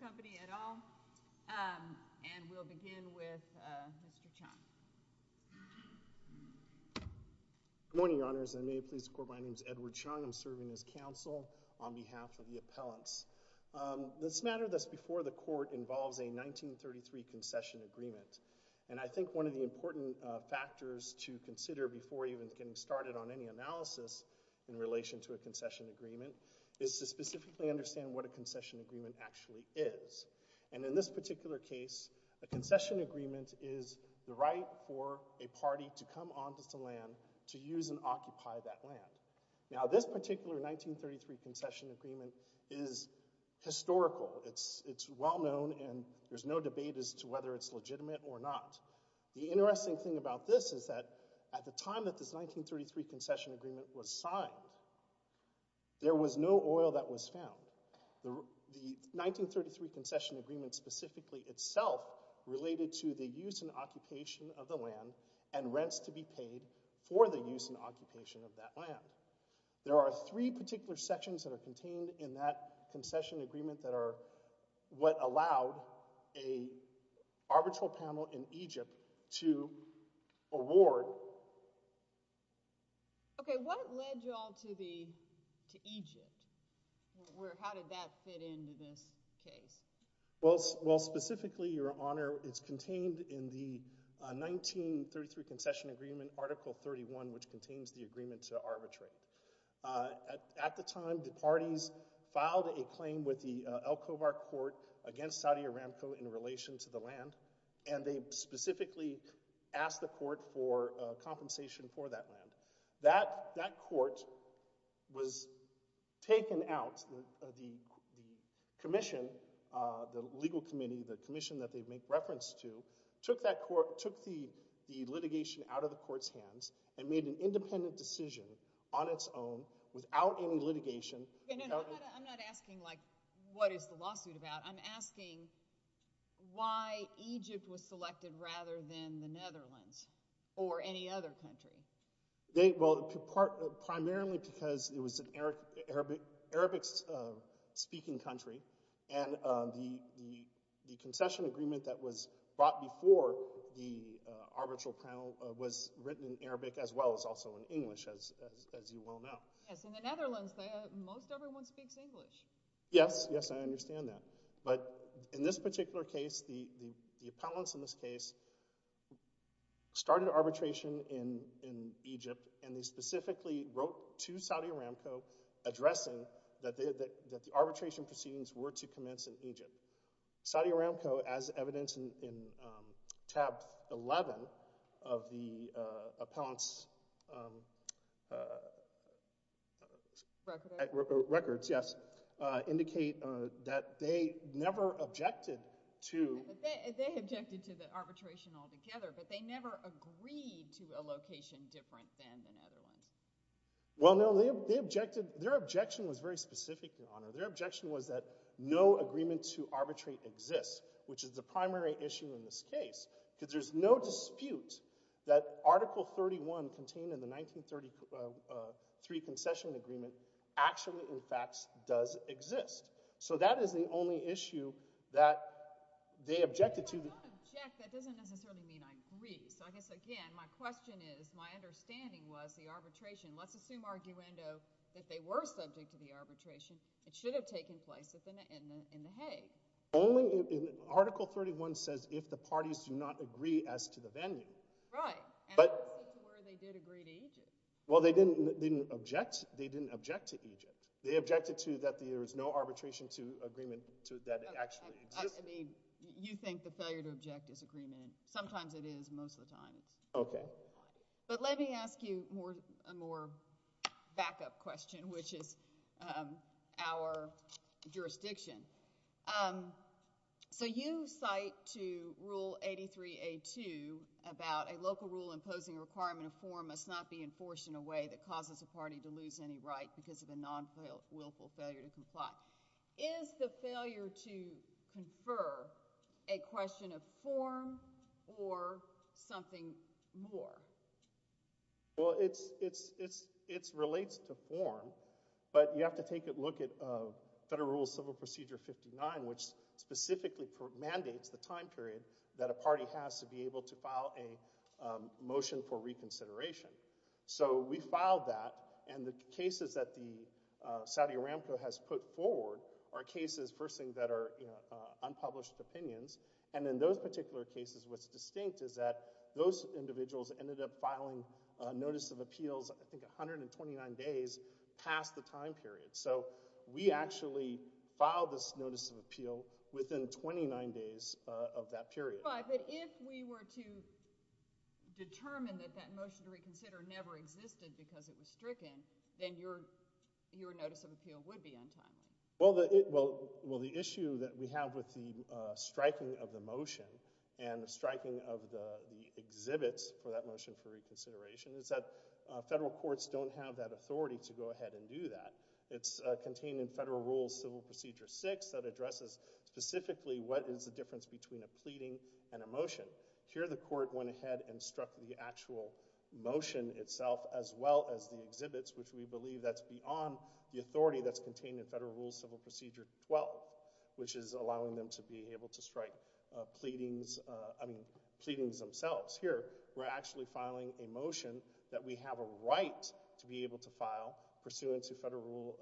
Company et al. And we'll begin with Mr. Chong. Good morning, Your Honors. I'm Edward Chong. I'm serving as counsel on behalf of the appellants. This matter that's before the court involves a 1933 concession agreement. And I think one of the important factors to consider before even getting started on any analysis in relation to a concession agreement is to specifically understand what a concession agreement actually is. And in this particular case, a concession agreement is the right for a party to come onto some land to use and occupy that land. Now this particular 1933 concession agreement is historical. It's well known and there's no debate as to whether it's legitimate or not. The interesting thing about this is that at the time that this 1933 concession agreement was signed, there was no oil that was found. The 1933 concession agreement specifically itself related to the use and occupation of the land and rents to be paid for the use and occupation of that land. There are three particular sections that are contained in that concession agreement that are what allowed a arbitral panel in Egypt to award. Okay, what led y'all to Egypt? How did that fit into this case? Well, specifically, Your Honor, it's contained in the 1933 concession agreement, Article 31, which contains the agreement to arbitrate. At the time, the parties filed a claim with the Al-Khobar Court against Saudi Aramco in relation to the land, and they specifically asked the court for compensation for that land. That court was taken out. The commission, the legal committee, the commission that they make reference to, took the litigation out of the court's hands and made an independent decision on its own without any litigation. I'm not asking, like, what is the lawsuit about? I'm asking why Egypt was selected rather than the Netherlands or any other country. Well, primarily because it was an Arabic-speaking country, and the concession agreement that was brought before the arbitral panel was written in Arabic as well as also in English, as you well know. Yes, in the Netherlands, most everyone speaks English. Yes, yes, I understand that. But in this particular case, the appellants in this case started arbitration in Egypt, and they specifically wrote to Saudi Aramco addressing that the arbitration proceedings were to commence in Egypt. Saudi Aramco, as evidenced in Chapter 11 of the appellant's records, yes, indicate that they never objected to— They objected to the arbitration altogether, but they never agreed to a location different than the Netherlands. Well, no, their objection was very specific, Your Honor. Their objection was that no agreement to arbitrate exists, which is the primary issue in this case, because there's no dispute that Article 31 contained in the 1933 concession agreement actually, in fact, does exist. So that is the only issue that they objected to. If I don't object, that doesn't necessarily mean I agree. So I guess, again, my question is, my understanding was the arbitration—let's assume, arguendo, that they were subject to arbitration in the Hague. Only in—Article 31 says if the parties do not agree as to the venue. Right, and also to where they did agree to Egypt. Well, they didn't object to Egypt. They objected to that there is no arbitration to agreement that actually exists. I mean, you think the failure to object is agreement. Sometimes it is, most of the times. Okay. But let me ask you a more backup question, which is our jurisdiction. So you cite to Rule 83-A-2 about a local rule imposing a requirement of form must not be enforced in a way that causes a party to lose any right because of a non-willful failure to comply. Is the failure to confer a question of form or something more? Well, it relates to form, but you have to take a look at Federal Rule Civil Procedure 59, which specifically mandates the time period that a party has to be able to file a motion for reconsideration. So we filed that, and the cases that the Saudi Aramco has put forward are cases, first thing, that are unpublished opinions. And in those particular cases, what's distinct is that those individuals ended up filing a notice of appeals, I think, 129 days past the time period. So we actually filed this notice of appeal within 29 days of that period. But if we were to determine that that motion to reconsider never existed because it was stricken, then your notice of appeal would be untimely. Well, the issue that we have with the striking of the motion and the striking of the exhibits for that motion for reconsideration is that federal courts don't have that authority to go ahead and do that. It's contained in Federal Rule Civil Procedure 6 that addresses specifically what is the difference between a pleading and a motion. Here the court went ahead and struck the actual motion itself as well as the exhibits, which we believe that's beyond the authority that's contained in Federal Rule Civil Procedure 12, which is allowing them to be able to strike pleadings, I mean, pleadings themselves. Here we're actually filing a motion that we have a right to be able to file pursuant to Federal Rule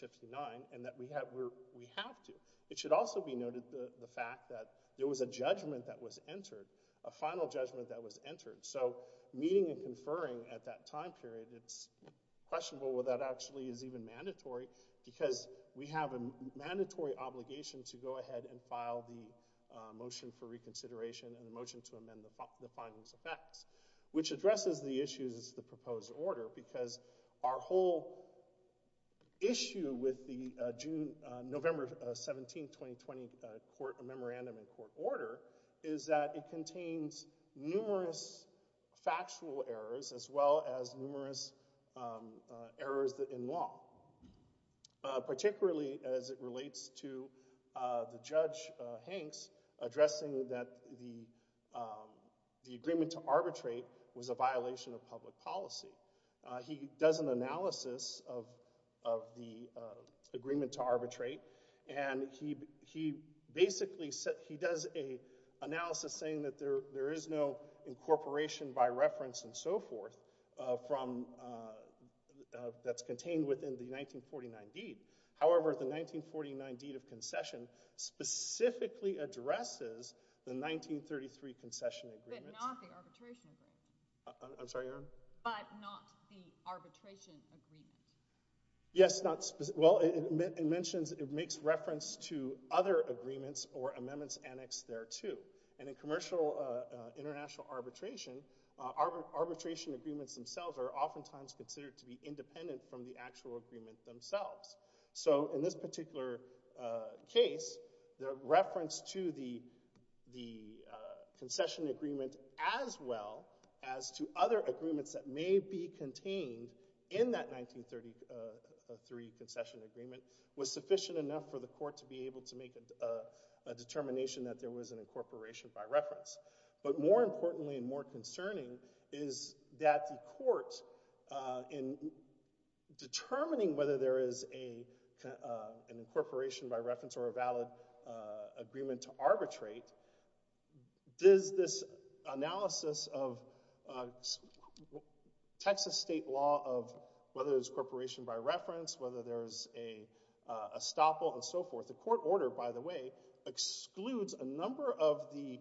59 and that we have to. It should also be noted the fact that there was a judgment that was entered, a final judgment that was entered. So meeting and conferring at that time period, it's questionable whether that actually is even mandatory because we have a mandatory obligation to go ahead and file the motion for reconsideration and the motion to amend the findings of facts, which addresses the issues of the proposed order because our whole issue with the November 17, 2020 memorandum in court order is that it contains numerous factual errors as well as numerous errors in law, particularly as it relates to the Judge Hanks addressing that the agreement to arbitrate was a violation of public policy. He does an analysis of the agreement to arbitrate and he basically, he does an analysis saying that there is no incorporation by reference and so forth from, that's contained within the 1949 deed. However, the 1949 deed of concession specifically addresses the 1933 concession agreement. But not the arbitration agreement. I'm sorry, Your Honor? But not the arbitration agreement. Yes, not, well, it mentions, it makes reference to other agreements or amendments annexed thereto. And in commercial international arbitration, arbitration agreements themselves are oftentimes considered to be independent from the actual agreement themselves. So, in this particular case, the reference to the concession agreement as well as to other agreements that may be contained in that 1933 concession agreement was sufficient enough for the court to be able to make a determination that there was an incorporation by reference. But more importantly and more concerning is that the court in determining whether there is an incorporation by reference or a valid agreement to arbitrate, does this analysis of Texas state law of whether there's incorporation by reference, whether there's a estoppel and so forth. The court order, by the way, excludes a number of the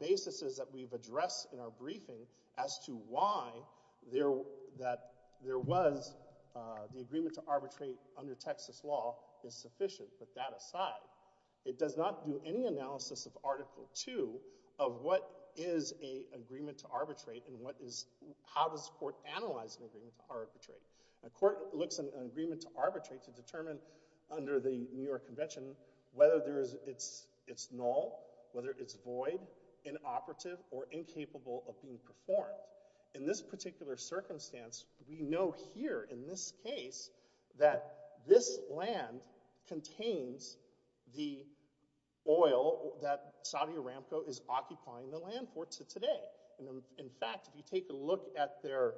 basis's that we've addressed in our briefing as to why there, that there was the agreement to arbitrate under Texas law is sufficient. But that aside, it does not do any analysis of Article 2 of what is a agreement to arbitrate and what is, how does the court analyze an agreement to arbitrate. The court looks at an agreement to arbitrate to determine under the New York Convention whether there is, it's null, whether it's void, inoperative or incapable of being performed. Well, in this particular circumstance, we know here in this case that this land contains the oil that Saudi Aramco is occupying the land for to today. In fact, if you take a look at their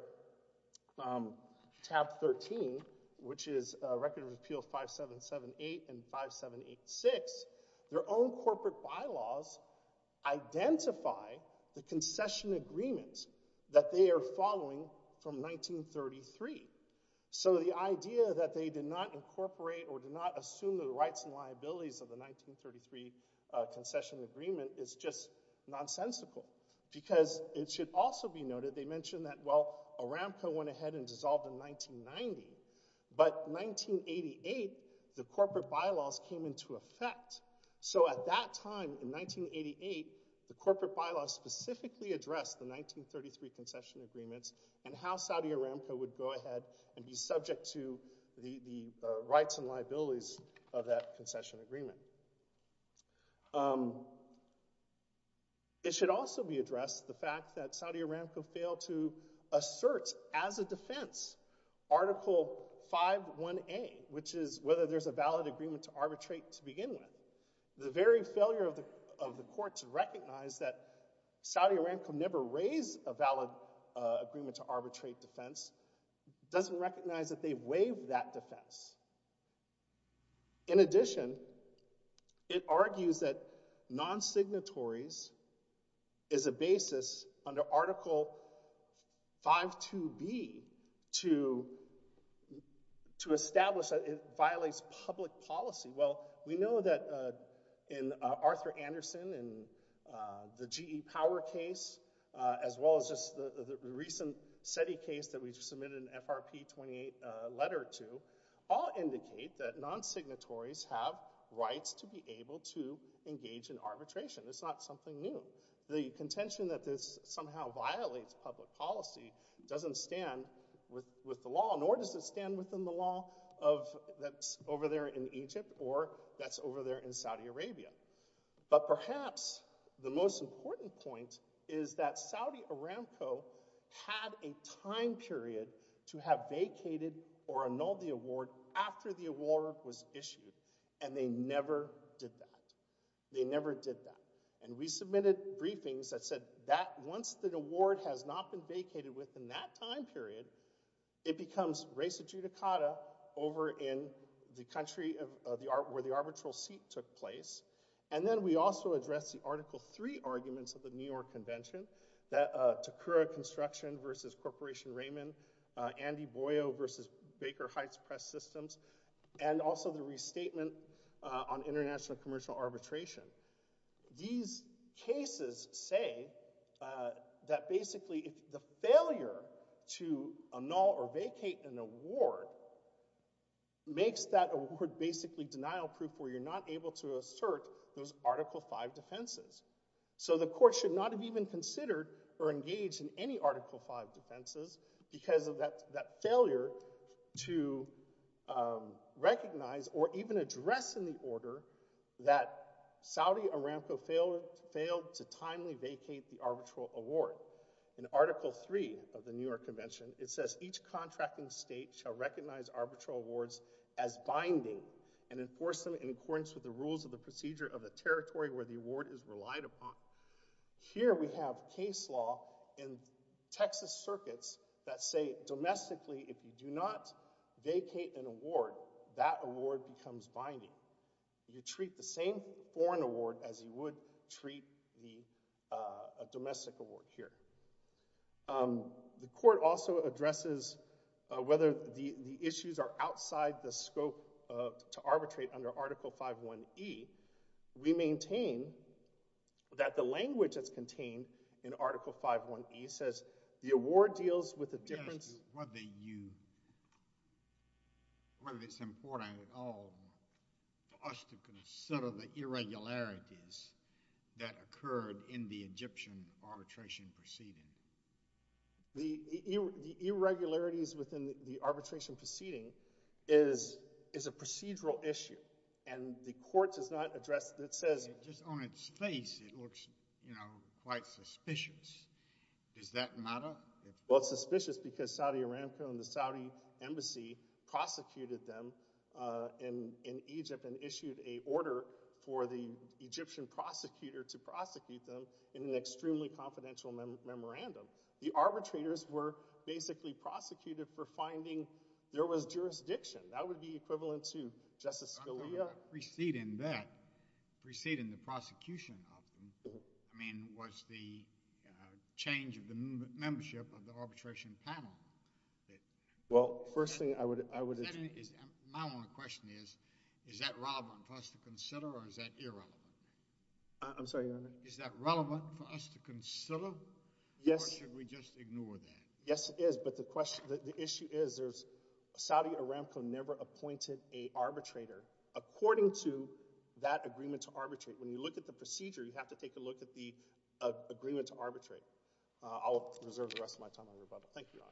tab 13, which is Record of Appeals 5778 and 5786, their own corporate bylaws identify the concession agreements that they are following from 1933. So the idea that they did not incorporate or did not assume the rights and liabilities of the 1933 concession agreement is just nonsensical. Because it should also be noted, they mentioned that, well, Aramco went ahead and dissolved in 1990, but 1988, the corporate bylaws came into effect. So at that time, in 1988, the corporate bylaws specifically addressed the 1933 concession agreements and how Saudi Aramco would go ahead and be subject to the rights and liabilities of that concession agreement. It should also be addressed the fact that Saudi Aramco failed to assert as a defense Article 5.1.A, which is whether there's a valid agreement to arbitrate to begin with. The very failure of the court to recognize that Saudi Aramco never raised a valid agreement to arbitrate defense doesn't recognize that they waived that defense. In addition, it argues that non-signatories is a basis under Article 5.2.B to establish that it violates public policy. Well, we know that in Arthur Anderson and the GE Power case, as well as just the recent SETI case that we just submitted an FRP 28 letter to, all indicate that non-signatories have rights to be able to engage in arbitration. It's not something new. The contention that this somehow violates public policy doesn't stand with the law, nor does it stand within the law that's over there in Egypt or that's over there in Saudi Arabia. But perhaps the most important point is that Saudi Aramco had a time period to have vacated or annulled the award after the award was issued, and they never did that. They never did that. And we submitted briefings that said that once the award has not been vacated within that time period, it becomes res adjudicata over in the country where the arbitral seat took place. And then we also addressed the Article 3 arguments of the New York Convention, that Takura Construction versus Corporation Raymond, Andy Boyo versus Baker Heights Press Systems, and also the restatement on international commercial arbitration. These cases say that basically if the failure to annul or vacate an award makes that award basically denial proof where you're not able to assert those Article 5 defenses. So the court should not have even considered or engaged in any Article 5 defenses because of that failure to recognize or even address in the order that Saudi Aramco failed to timely vacate the arbitral award. In Article 3 of the New York Convention, it says each contracting state shall recognize arbitral awards as binding and enforce them in accordance with the rules of the procedure of the territory where the award is relied upon. Here we have case law in Texas circuits that say domestically if you do not vacate an award, that award becomes binding. You treat the same foreign award as you would treat a domestic award here. The court also addresses whether the issues are outside the scope to arbitrate under Article 5.1.E. We maintain that the language that's contained in Article 5.1.E. says the award deals with a difference. Yes, whether you, whether it's important at all for us to consider the irregularities that occurred in the Egyptian arbitration proceeding. The irregularities within the arbitration proceeding is a procedural issue and the court does not address it. It says just on its face it looks, you know, quite suspicious. Does that matter? Well, it's suspicious because Saudi Aramco and the Saudi embassy prosecuted them in Egypt and issued an order for the Egyptian prosecutor to prosecute them in an extremely confidential memorandum. The arbitrators were basically prosecuted for finding there was jurisdiction. That would be equivalent to Justice Scalia. Preceding that, preceding the prosecution of them, I mean, was the change of the membership of the arbitration panel. Well, first thing I would, I would. My only question is, is that relevant for us to consider or is that irrelevant? I'm sorry, Your Honor. Is that relevant for us to consider or should we just ignore that? Yes, it is, but the question, the issue is there's, Saudi Aramco never appointed a arbitrator according to that agreement to arbitrate. When you look at the procedure, you have to take a look at the agreement to arbitrate. I'll reserve the rest of my time on your bubble. Thank you, Your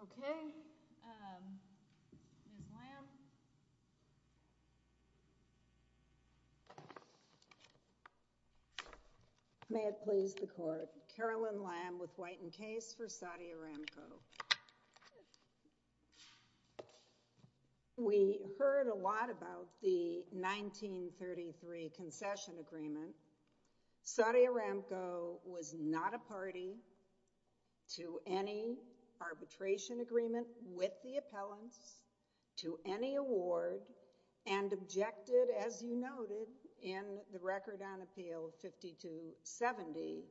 Honor. Okay. Ms. Lamb. May it please the Court. Carolyn Lamb with White and Case for Saudi Aramco. We heard a lot about the 1933 concession agreement. Saudi Aramco was not a party to any arbitration agreement with the appellants, to any award, and objected, as you noted in the record on Appeal 5270,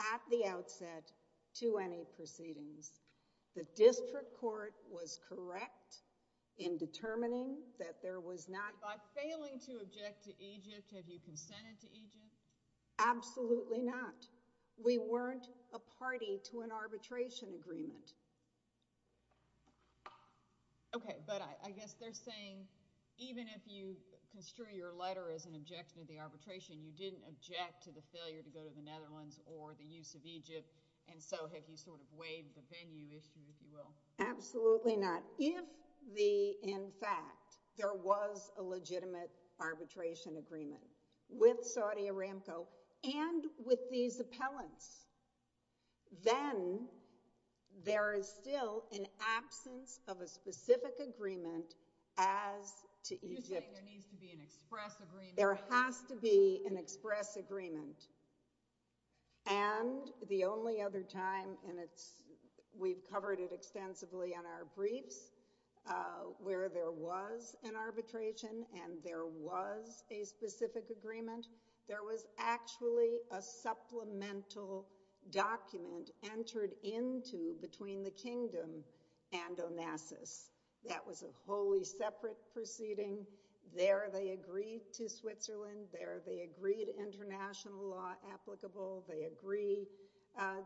at the outset to any proceedings. The district court was correct in determining that there was not. By failing to object to Egypt, have you consented to Egypt? Absolutely not. We weren't a party to an arbitration agreement. Okay, but I guess they're saying even if you construe your letter as an objection to the arbitration, you didn't object to the failure to go to the Netherlands or the use of Egypt, and so have you sort of waived the venue issue, if you will? Absolutely not. If, in fact, there was a legitimate arbitration agreement with Saudi Aramco and with these appellants, then there is still an absence of a specific agreement as to Egypt. You're saying there needs to be an express agreement. There has to be an express agreement. And the only other time, and we've covered it extensively in our briefs, where there was an arbitration and there was a specific agreement, there was actually a supplemental document entered into between the Kingdom and Onassis. That was a wholly separate proceeding. There, they agreed to Switzerland. There, they agreed to international law applicable. They agreed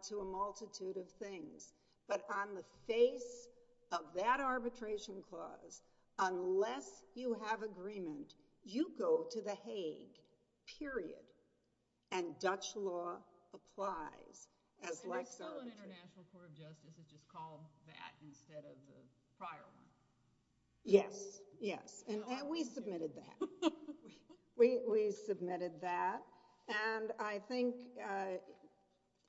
to a multitude of things. But on the face of that arbitration clause, unless you have agreement, you go to The Hague, period. And Dutch law applies. So there's still an International Court of Justice that just called that instead of the prior one? Yes, yes. And we submitted that. We submitted that. And I think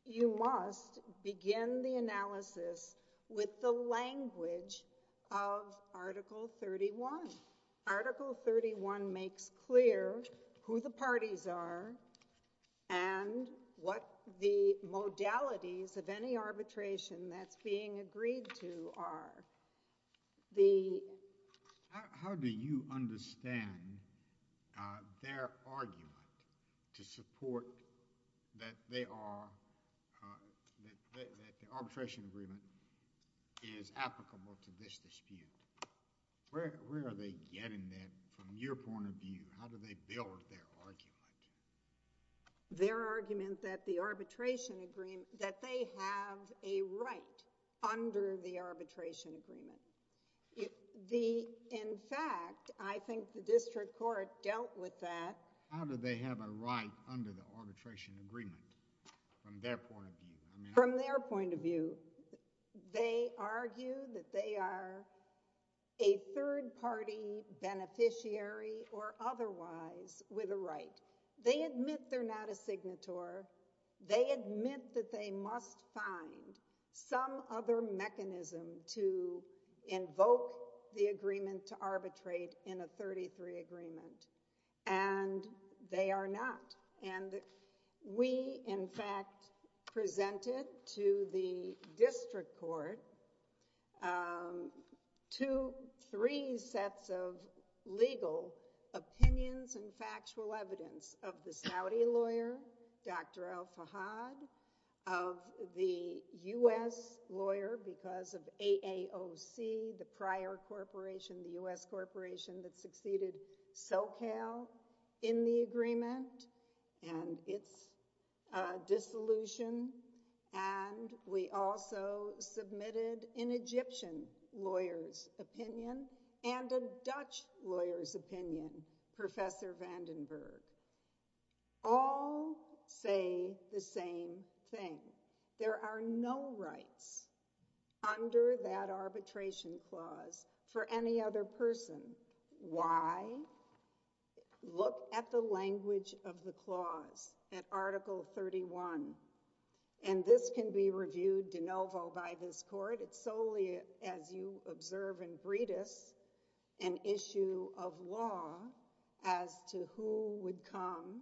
you must begin the analysis with the language of Article 31. Article 31 makes clear who the parties are and what the modalities of any arbitration that's being agreed to are. How do you understand their argument to support that they are, that the arbitration agreement is applicable to this dispute? Where are they getting that from your point of view? How do they build their argument? Their argument that the arbitration agreement, that they have a right under the arbitration agreement. In fact, I think the district court dealt with that. How do they have a right under the arbitration agreement from their point of view? From their point of view, they argue that they are a third party beneficiary or otherwise with a right. They admit they're not a signator. They admit that they must find some other mechanism to invoke the agreement to arbitrate in a 33 agreement. And they are not. And we, in fact, presented to the district court two, three sets of legal opinions and factual evidence of the Saudi lawyer, Dr. El-Fahad, of the U.S. lawyer, because of AAOC, the prior corporation, the U.S. corporation that succeeded SoCal in the agreement and its dissolution. And we also submitted an Egyptian lawyer's opinion and a Dutch lawyer's opinion, Professor Vandenberg. All say the same thing. There are no rights under that arbitration clause for any other person. Why? Look at the language of the clause at Article 31. And this can be reviewed de novo by this court. It's solely, as you observe in Breedis, an issue of law as to who would come,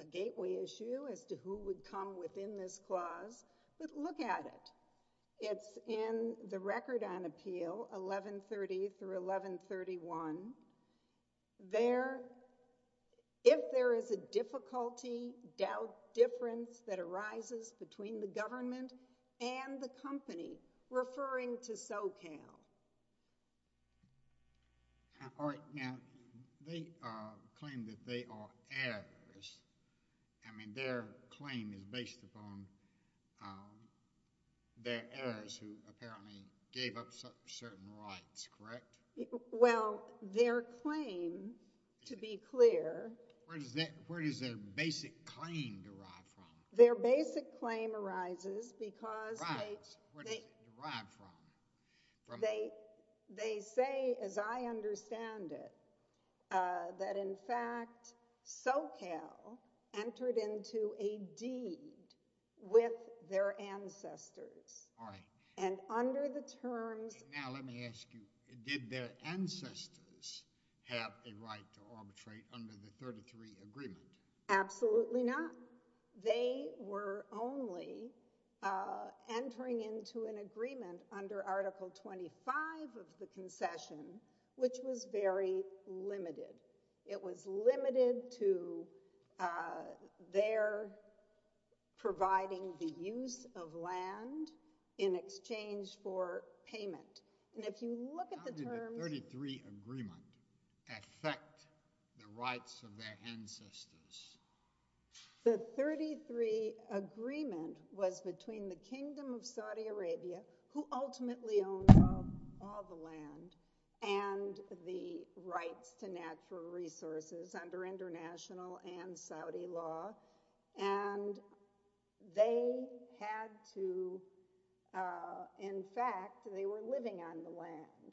a gateway issue as to who would come within this clause. But look at it. It's in the record on appeal, 1130 through 1131. If there is a difficulty, doubt, difference that arises between the government and the company, referring to SoCal. All right. Now, they claim that they are heirs. I mean, their claim is based upon their heirs, who apparently gave up certain rights, correct? Well, their claim, to be clear... Where does their basic claim derive from? Their basic claim arises because they... Where does it derive from? They say, as I understand it, that, in fact, SoCal entered into a deed with their ancestors. All right. And under the terms... Now, let me ask you, did their ancestors have a right to arbitrate under the 33 Agreement? Absolutely not. They were only entering into an agreement under Article 25 of the concession, which was very limited. It was limited to their providing the use of land in exchange for payment. And if you look at the terms... How did the 33 Agreement affect the rights of their ancestors? The 33 Agreement was between the Kingdom of Saudi Arabia, who ultimately owned all the land, and the rights to natural resources under international and Saudi law. And they had to... In fact, they were living on the land.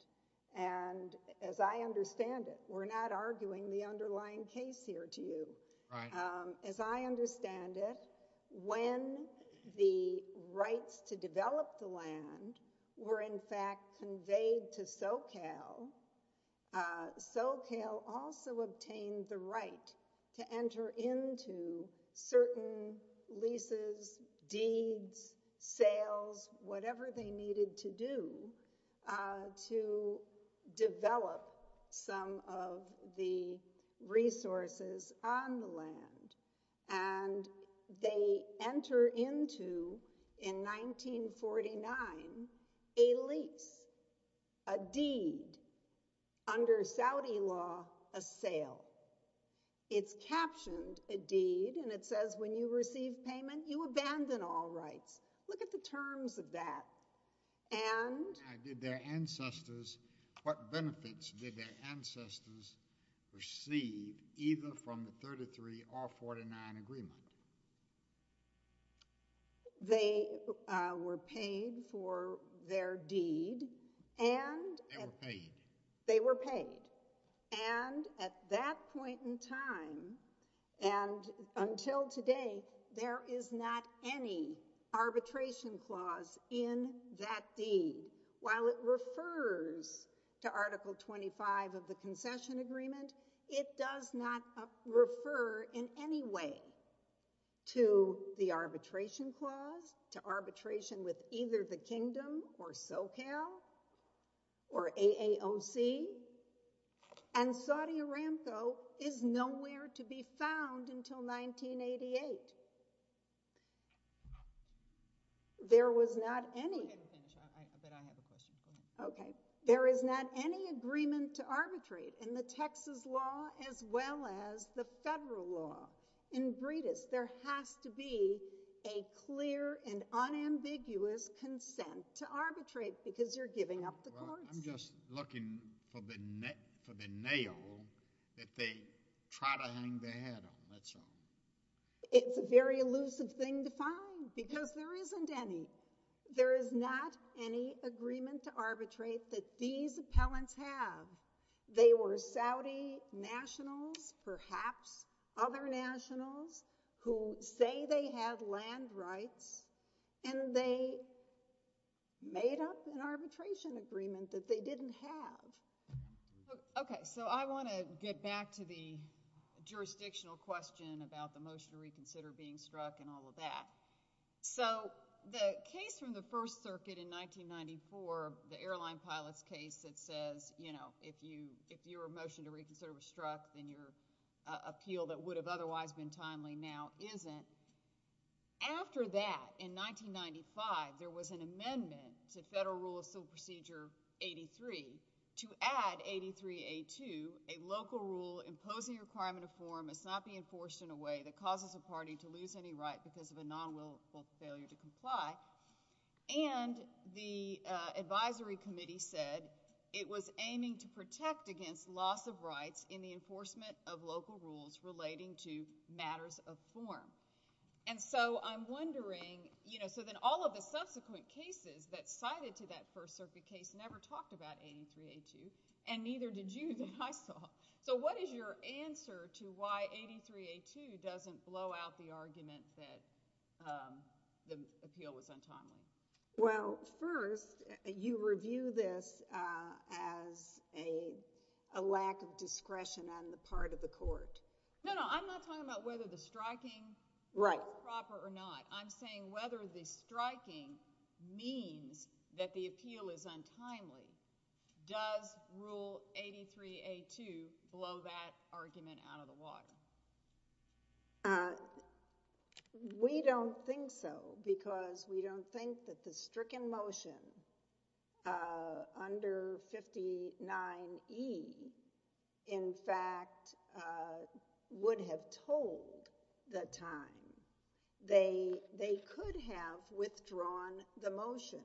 And, as I understand it... We're not arguing the underlying case here to you. Right. As I understand it, when the rights to develop the land were, in fact, conveyed to SoCal, SoCal also obtained the right to enter into certain leases, deeds, sales, whatever they needed to do to develop some of the resources on the land. And they enter into, in 1949, a lease, a deed, under Saudi law, a sale. It's captioned a deed, and it says when you receive payment, you abandon all rights. Look at the terms of that. And... Did their ancestors... What benefits did their ancestors receive either from the 33 or 49 Agreement? They were paid for their deed, and... They were paid. They were paid. And, at that point in time, and until today, there is not any arbitration clause in that deed. While it refers to Article 25 of the Concession Agreement, it does not refer in any way to the arbitration clause, to arbitration with either the Kingdom or SoCal, or AAOC, and Saudi Aramco is nowhere to be found until 1988. There was not any... I bet I have a question for you. Okay. There is not any agreement to arbitrate in the Texas law as well as the federal law. In Breda's, there has to be a clear and unambiguous consent to arbitrate because you're giving up the courts. I'm just looking for the nail that they try to hang their head on. That's all. It's a very elusive thing to find because there isn't any. There is not any agreement to arbitrate that these appellants have. They were Saudi nationals, perhaps other nationals, who say they have land rights, and they made up an arbitration agreement that they didn't have. Okay. So I want to get back to the jurisdictional question about the motion to reconsider being struck and all of that. So the case from the First Circuit in 1994, the airline pilot's case that says, you know, if your motion to reconsider was struck, then your appeal that would have otherwise been timely now isn't. After that, in 1995, there was an amendment to Federal Rule of Civil Procedure 83 to add 83A2, a local rule imposing a requirement of form must not be enforced in a way that causes a party to lose any right because of a nonwillful failure to comply. And the advisory committee said it was aiming to protect against loss of rights in the enforcement of local rules relating to matters of form. And so I'm wondering, you know, so then all of the subsequent cases that cited to that First Circuit case never talked about 83A2, and neither did you that I saw. So what is your answer to why 83A2 doesn't blow out the argument that the appeal was untimely? Well, first, you review this as a lack of discretion on the part of the court. No, no, I'm not talking about whether the striking was proper or not. I'm saying whether the striking means that the appeal is untimely. Does Rule 83A2 blow that argument out of the water? We don't think so because we don't think that the stricken motion under 59E in fact would have told the time. They could have withdrawn the motion.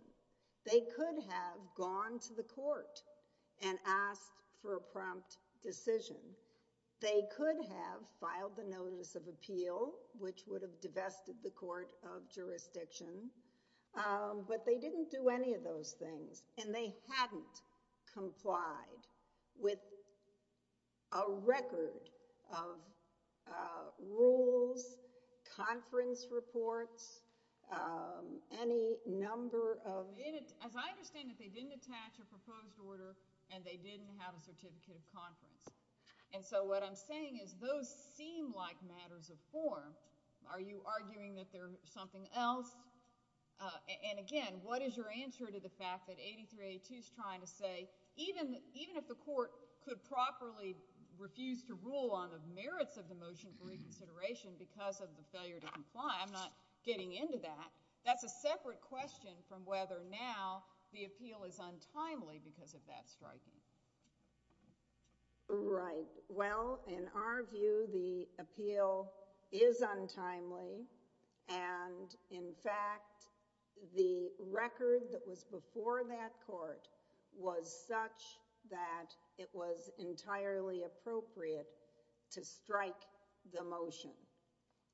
They could have gone to the court and asked for a prompt decision. They could have filed the notice of appeal which would have divested the court of jurisdiction. But they didn't do any of those things. And they hadn't complied with a record of rules, conference reports, any number of... As I understand it, they didn't attach a proposed order and they didn't have a certificate of conference. And so what I'm saying is those seem like matters of form. Are you arguing that they're something else? And again, what is your answer to the fact that 83A2 is trying to say even if the court could properly refuse to rule on the merits of the motion for reconsideration because of the failure to comply? I'm not getting into that. That's a separate question from whether now the appeal is untimely because of that striking. Right. Well, in our view, the appeal is untimely. And in fact, the record that was before that court was such that it was entirely appropriate to strike the motion.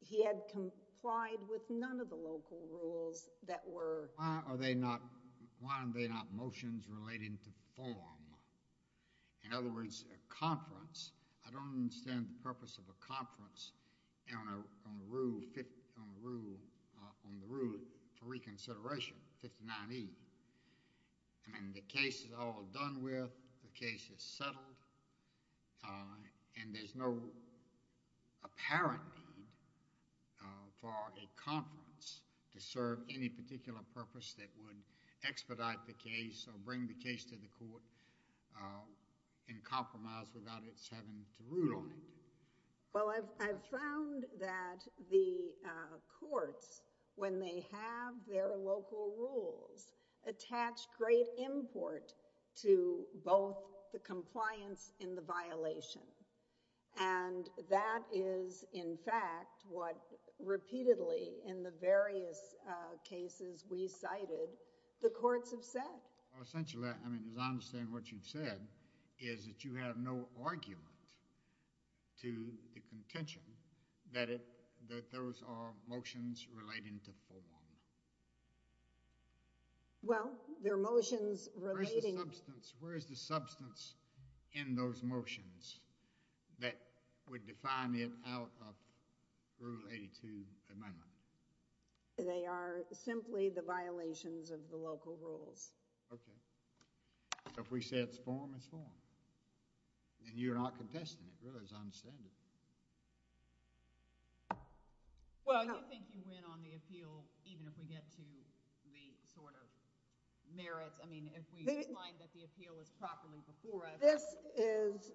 He had complied with none of the local rules that were... Why are they not motions relating to form? In other words, a conference. I don't understand the purpose of a conference on the rule for reconsideration, 59E. I mean, the case is all done with. The case is settled. And there's no apparent need for a conference to serve any particular purpose that would expedite the case or bring the case to the court and compromise without its having to rule on it. Well, I've found that the courts, when they have their local rules, attach great import to both the compliance and the violation. And that is, in fact, what repeatedly in the various cases we cited, the courts have said. Essentially, I mean, as I understand what you've said, is that you have no argument to the contention that those are motions relating to form. Well, they're motions relating... Where's the substance? Where is the substance in those motions that would define it out of Rule 82 Amendment? They are simply the violations of the local rules. Okay. So if we say it's form, it's form. And you're not contesting it, really, as I understand it. Well, you think you win on the appeal even if we get to the sort of merits... I mean, if we find that the appeal is properly before us. This is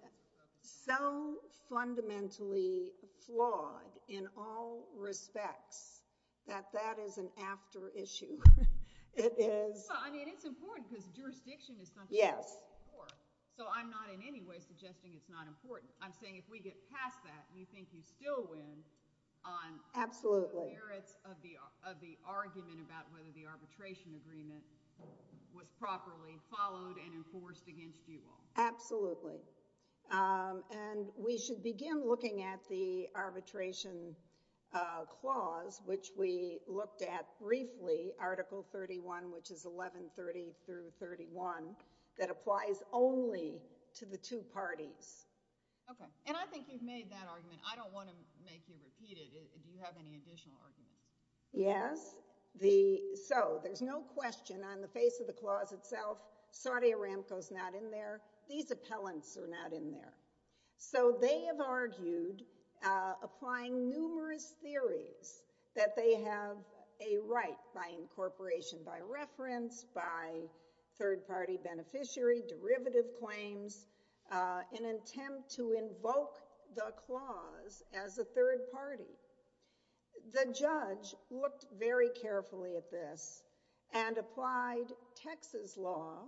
so fundamentally flawed in all respects that that is an after issue. It is... Well, I mean, it's important because jurisdiction is something... Yes. So I'm not in any way suggesting it's not important. I'm saying if we get past that, you think you still win on... Absolutely. ...the merits of the argument about whether the arbitration agreement was properly followed and enforced against you all. Absolutely. And we should begin looking at the arbitration clause, which we looked at briefly, Article 31, which is 1130 through 31, that applies only to the two parties. Okay. And I think you've made that argument. I don't want to make you repeat it. Do you have any additional arguments? Yes. The... So there's no question on the face of the clause itself, Saude Aramco's not in there. These appellants are not in there. So they have argued, applying numerous theories, that they have a right by incorporation, by reference, by third-party beneficiary, derivative claims, in an attempt to invoke the clause as a third party. The judge looked very carefully at this and applied Texas law,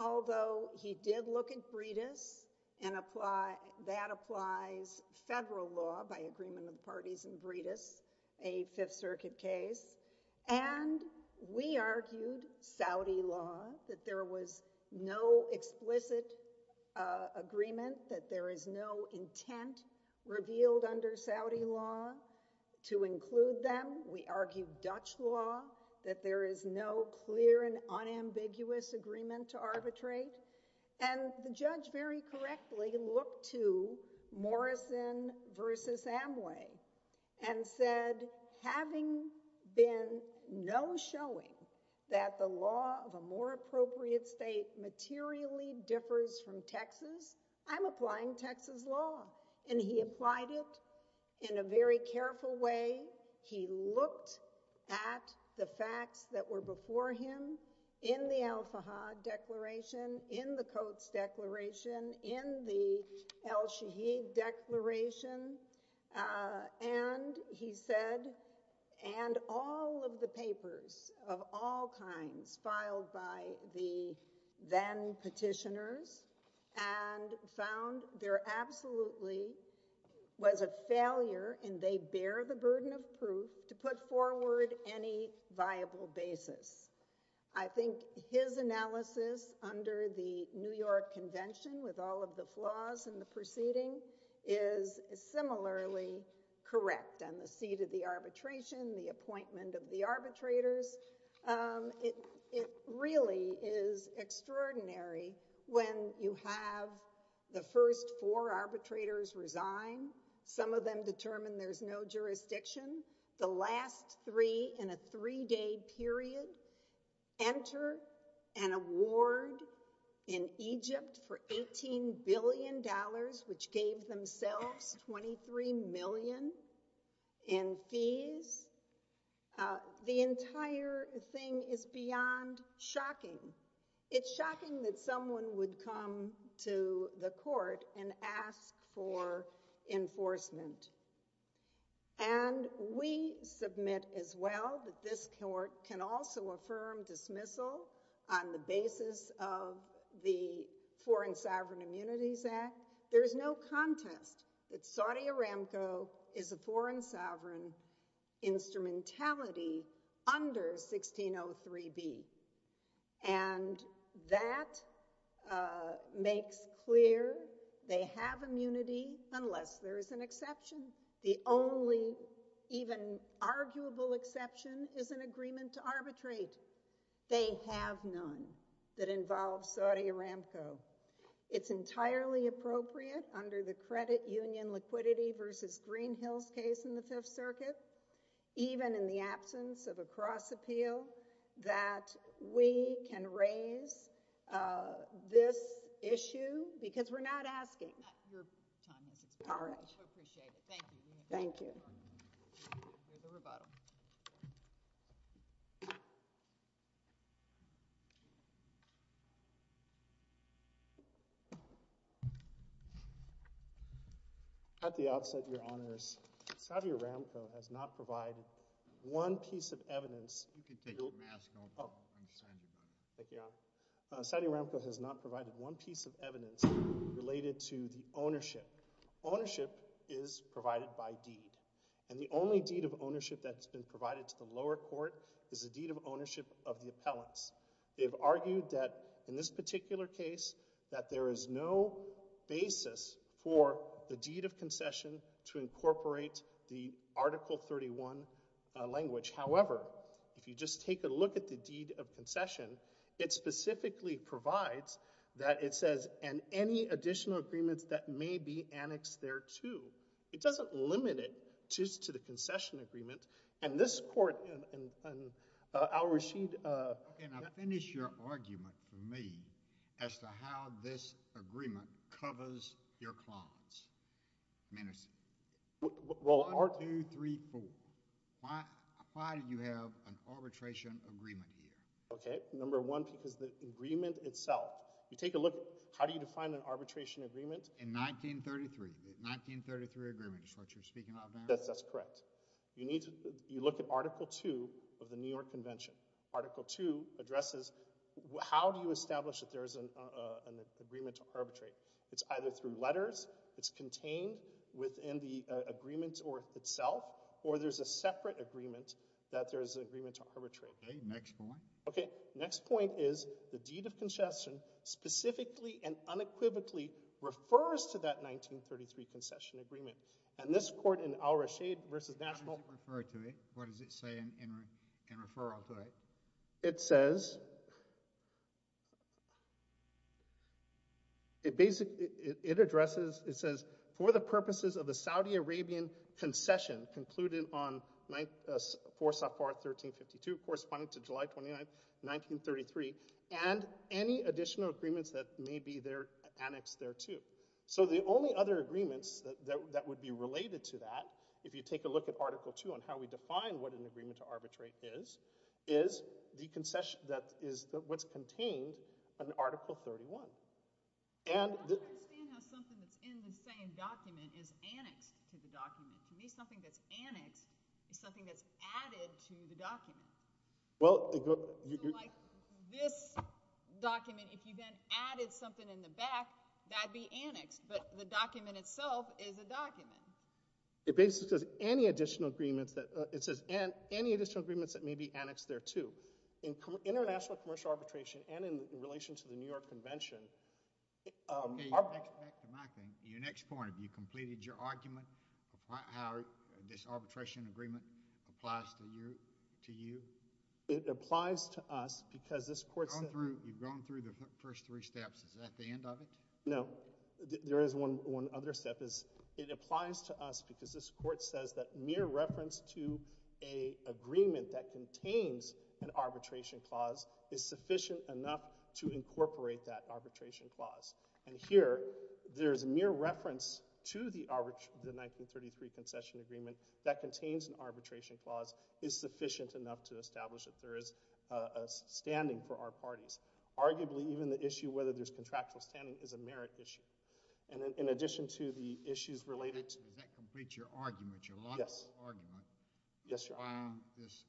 although he did look at Bredis and apply... that applies federal law, by agreement of the parties in Bredis, a Fifth Circuit case. And we argued Saudi law, that there was no explicit agreement, that there is no intent revealed under Saudi law to include them. We argued Dutch law, that there is no clear and unambiguous agreement to arbitrate. And the judge, very correctly, looked to Morrison v. Amway and said, having been no showing that the law of a more appropriate state materially differs from Texas, I'm applying Texas law. And he applied it in a very careful way. He looked at the facts that were before him in the El-Fahad Declaration, in the Coates Declaration, in the El-Shaheed Declaration, and he said, and all of the papers of all kinds filed by the then petitioners, and found there absolutely was a failure, and they bear the burden of proof, to put forward any viable basis. I think his analysis under the New York Convention, with all of the flaws in the proceeding, is similarly correct on the seat of the arbitration, the appointment of the arbitrators. It really is extraordinary when you have the first four arbitrators resign, some of them determine there's no jurisdiction, the last three in a three-day period enter an award in Egypt for $18 billion, which gave themselves $23 million in fees. The entire thing is beyond shocking. It's shocking that someone would come to the court and ask for enforcement. And we submit as well that this court can also affirm dismissal on the basis of the Foreign Sovereign Immunities Act. There's no contest that Saudi Aramco is a foreign sovereign instrumentality under 1603B. And that makes clear they have immunity unless there is an exception. The only even arguable exception is an agreement to arbitrate. They have none that involves Saudi Aramco. It's entirely appropriate under the credit union liquidity versus Greenhill's case in the Fifth Circuit, even in the absence of a cross-appeal, that we can raise this issue, because we're not asking. All right. Thank you. We'll hear the rebuttal. At the outset, your honors, Saudi Aramco has not provided one piece of evidence. You can take your mask off. I'm sorry. Thank you. Saudi Aramco has not provided one piece of evidence related to the ownership. Ownership is provided by deed. And the only deed of ownership that's been provided to the lower court is a deed of ownership of the appellants. They've argued that, in this particular case, that there is no basis for the deed of concession to incorporate the Article 31 language. However, if you just take a look at the deed of concession, it specifically provides that it says, and any additional agreements that may be annexed thereto. It doesn't limit it just to the concession agreement. And this court, Al Rashid... Okay, now finish your argument for me as to how this agreement covers your clause. Minutes. One, two, three, four. Why do you have an arbitration agreement here? Okay, number one, is the agreement itself. You take a look, how do you define an arbitration agreement? In 1933. The 1933 agreement is what you're speaking of now? That's correct. You look at Article 2 of the New York Convention. Article 2 addresses how do you establish that there's an agreement to arbitrate? It's either through letters, it's contained within the agreement itself, or there's a separate agreement that there's an agreement to arbitrate. Okay, next point. Next point is, the deed of concession specifically and unequivocally refers to that 1933 concession agreement. And this court in Al Rashid v. National... How does it refer to it? What does it say in referral to it? It says... It addresses, it says, for the purposes of the Saudi Arabian concession concluded on 4 Safar 1352 corresponding to July 29, 1933 and any additional agreements that may be annexed thereto. So the only other agreements that would be related to that if you take a look at Article 2 on how we define what an agreement to arbitrate is is the concession that is what's contained in Article 31. I don't understand how something that's in the same document is annexed to the document. To me, something that's annexed is something that's added to the document. Like this document, if you then added something in the back, that would be annexed. But the document itself is a document. It basically says any additional agreements that may be annexed thereto. In international commercial arbitration and in relation to the New York Convention... Back to my thing. Your next point. Have you completed your argument about how this arbitration agreement applies to you? It applies to us because this court... We've gone through the first three steps. Is that the end of it? No. There is one other step. It applies to us because this court says that mere reference to an agreement that contains an arbitration clause is sufficient enough to incorporate that arbitration clause. Here, there's mere reference to the 1933 concession agreement that contains an arbitration clause is sufficient enough to establish that there is a standing for our parties. Arguably, even the issue of whether there's contractual standing is a merit issue. In addition to the issues related to... Does that complete your argument? Yes. This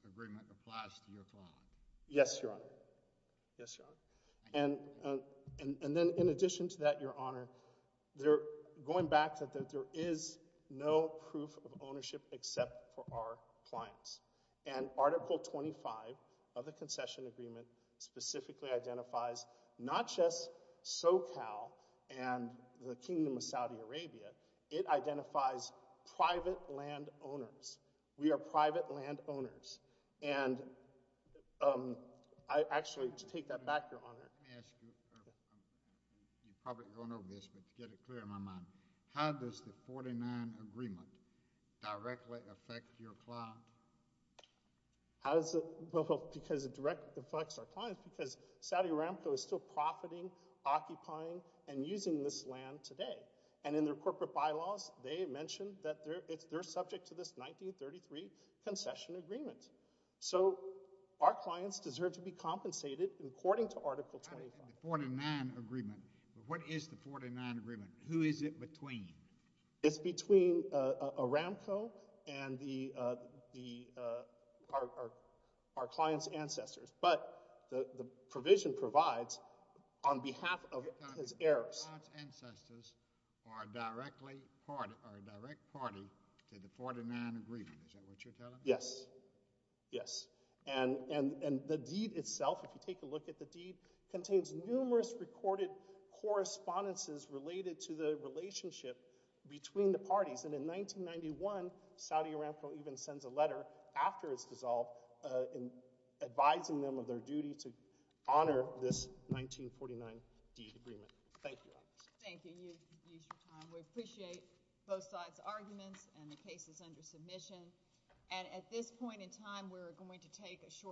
agreement applies to your client? Yes, Your Honor. Yes, Your Honor. In addition to that, Your Honor, going back there is no proof of ownership except for our clients. Article 25 of the concession agreement specifically identifies not just SoCal and the Kingdom of Saudi Arabia it identifies private land owners. We are private land owners. Actually, to take that back, Your Honor, let me ask you I'm probably going over this, but to get it clear in my mind, how does the 49 agreement directly affect your client? Because it directly affects our client because Saudi Aramco is still profiting, occupying, and using this land today. And in their corporate bylaws they mention that they're subject to this 1933 concession agreement. Our clients deserve to be compensated according to Article 25. The 49 agreement. What is the 49 agreement? Who is it between? It's between Aramco and our client's ancestors. But the provision provides on behalf of his heirs. Our client's ancestors are a direct party to the 49 agreement. Is that what you're telling me? Yes. And the deed itself, if you take a look at the deed, contains numerous recorded correspondences related to the relationship between the parties. And in 1991 Saudi Aramco even sends a letter after it's dissolved advising them of their duty to honor this 1949 deed agreement. Thank you. We appreciate both sides' arguments and the cases under submission. And at this point in time we're going to take a short break.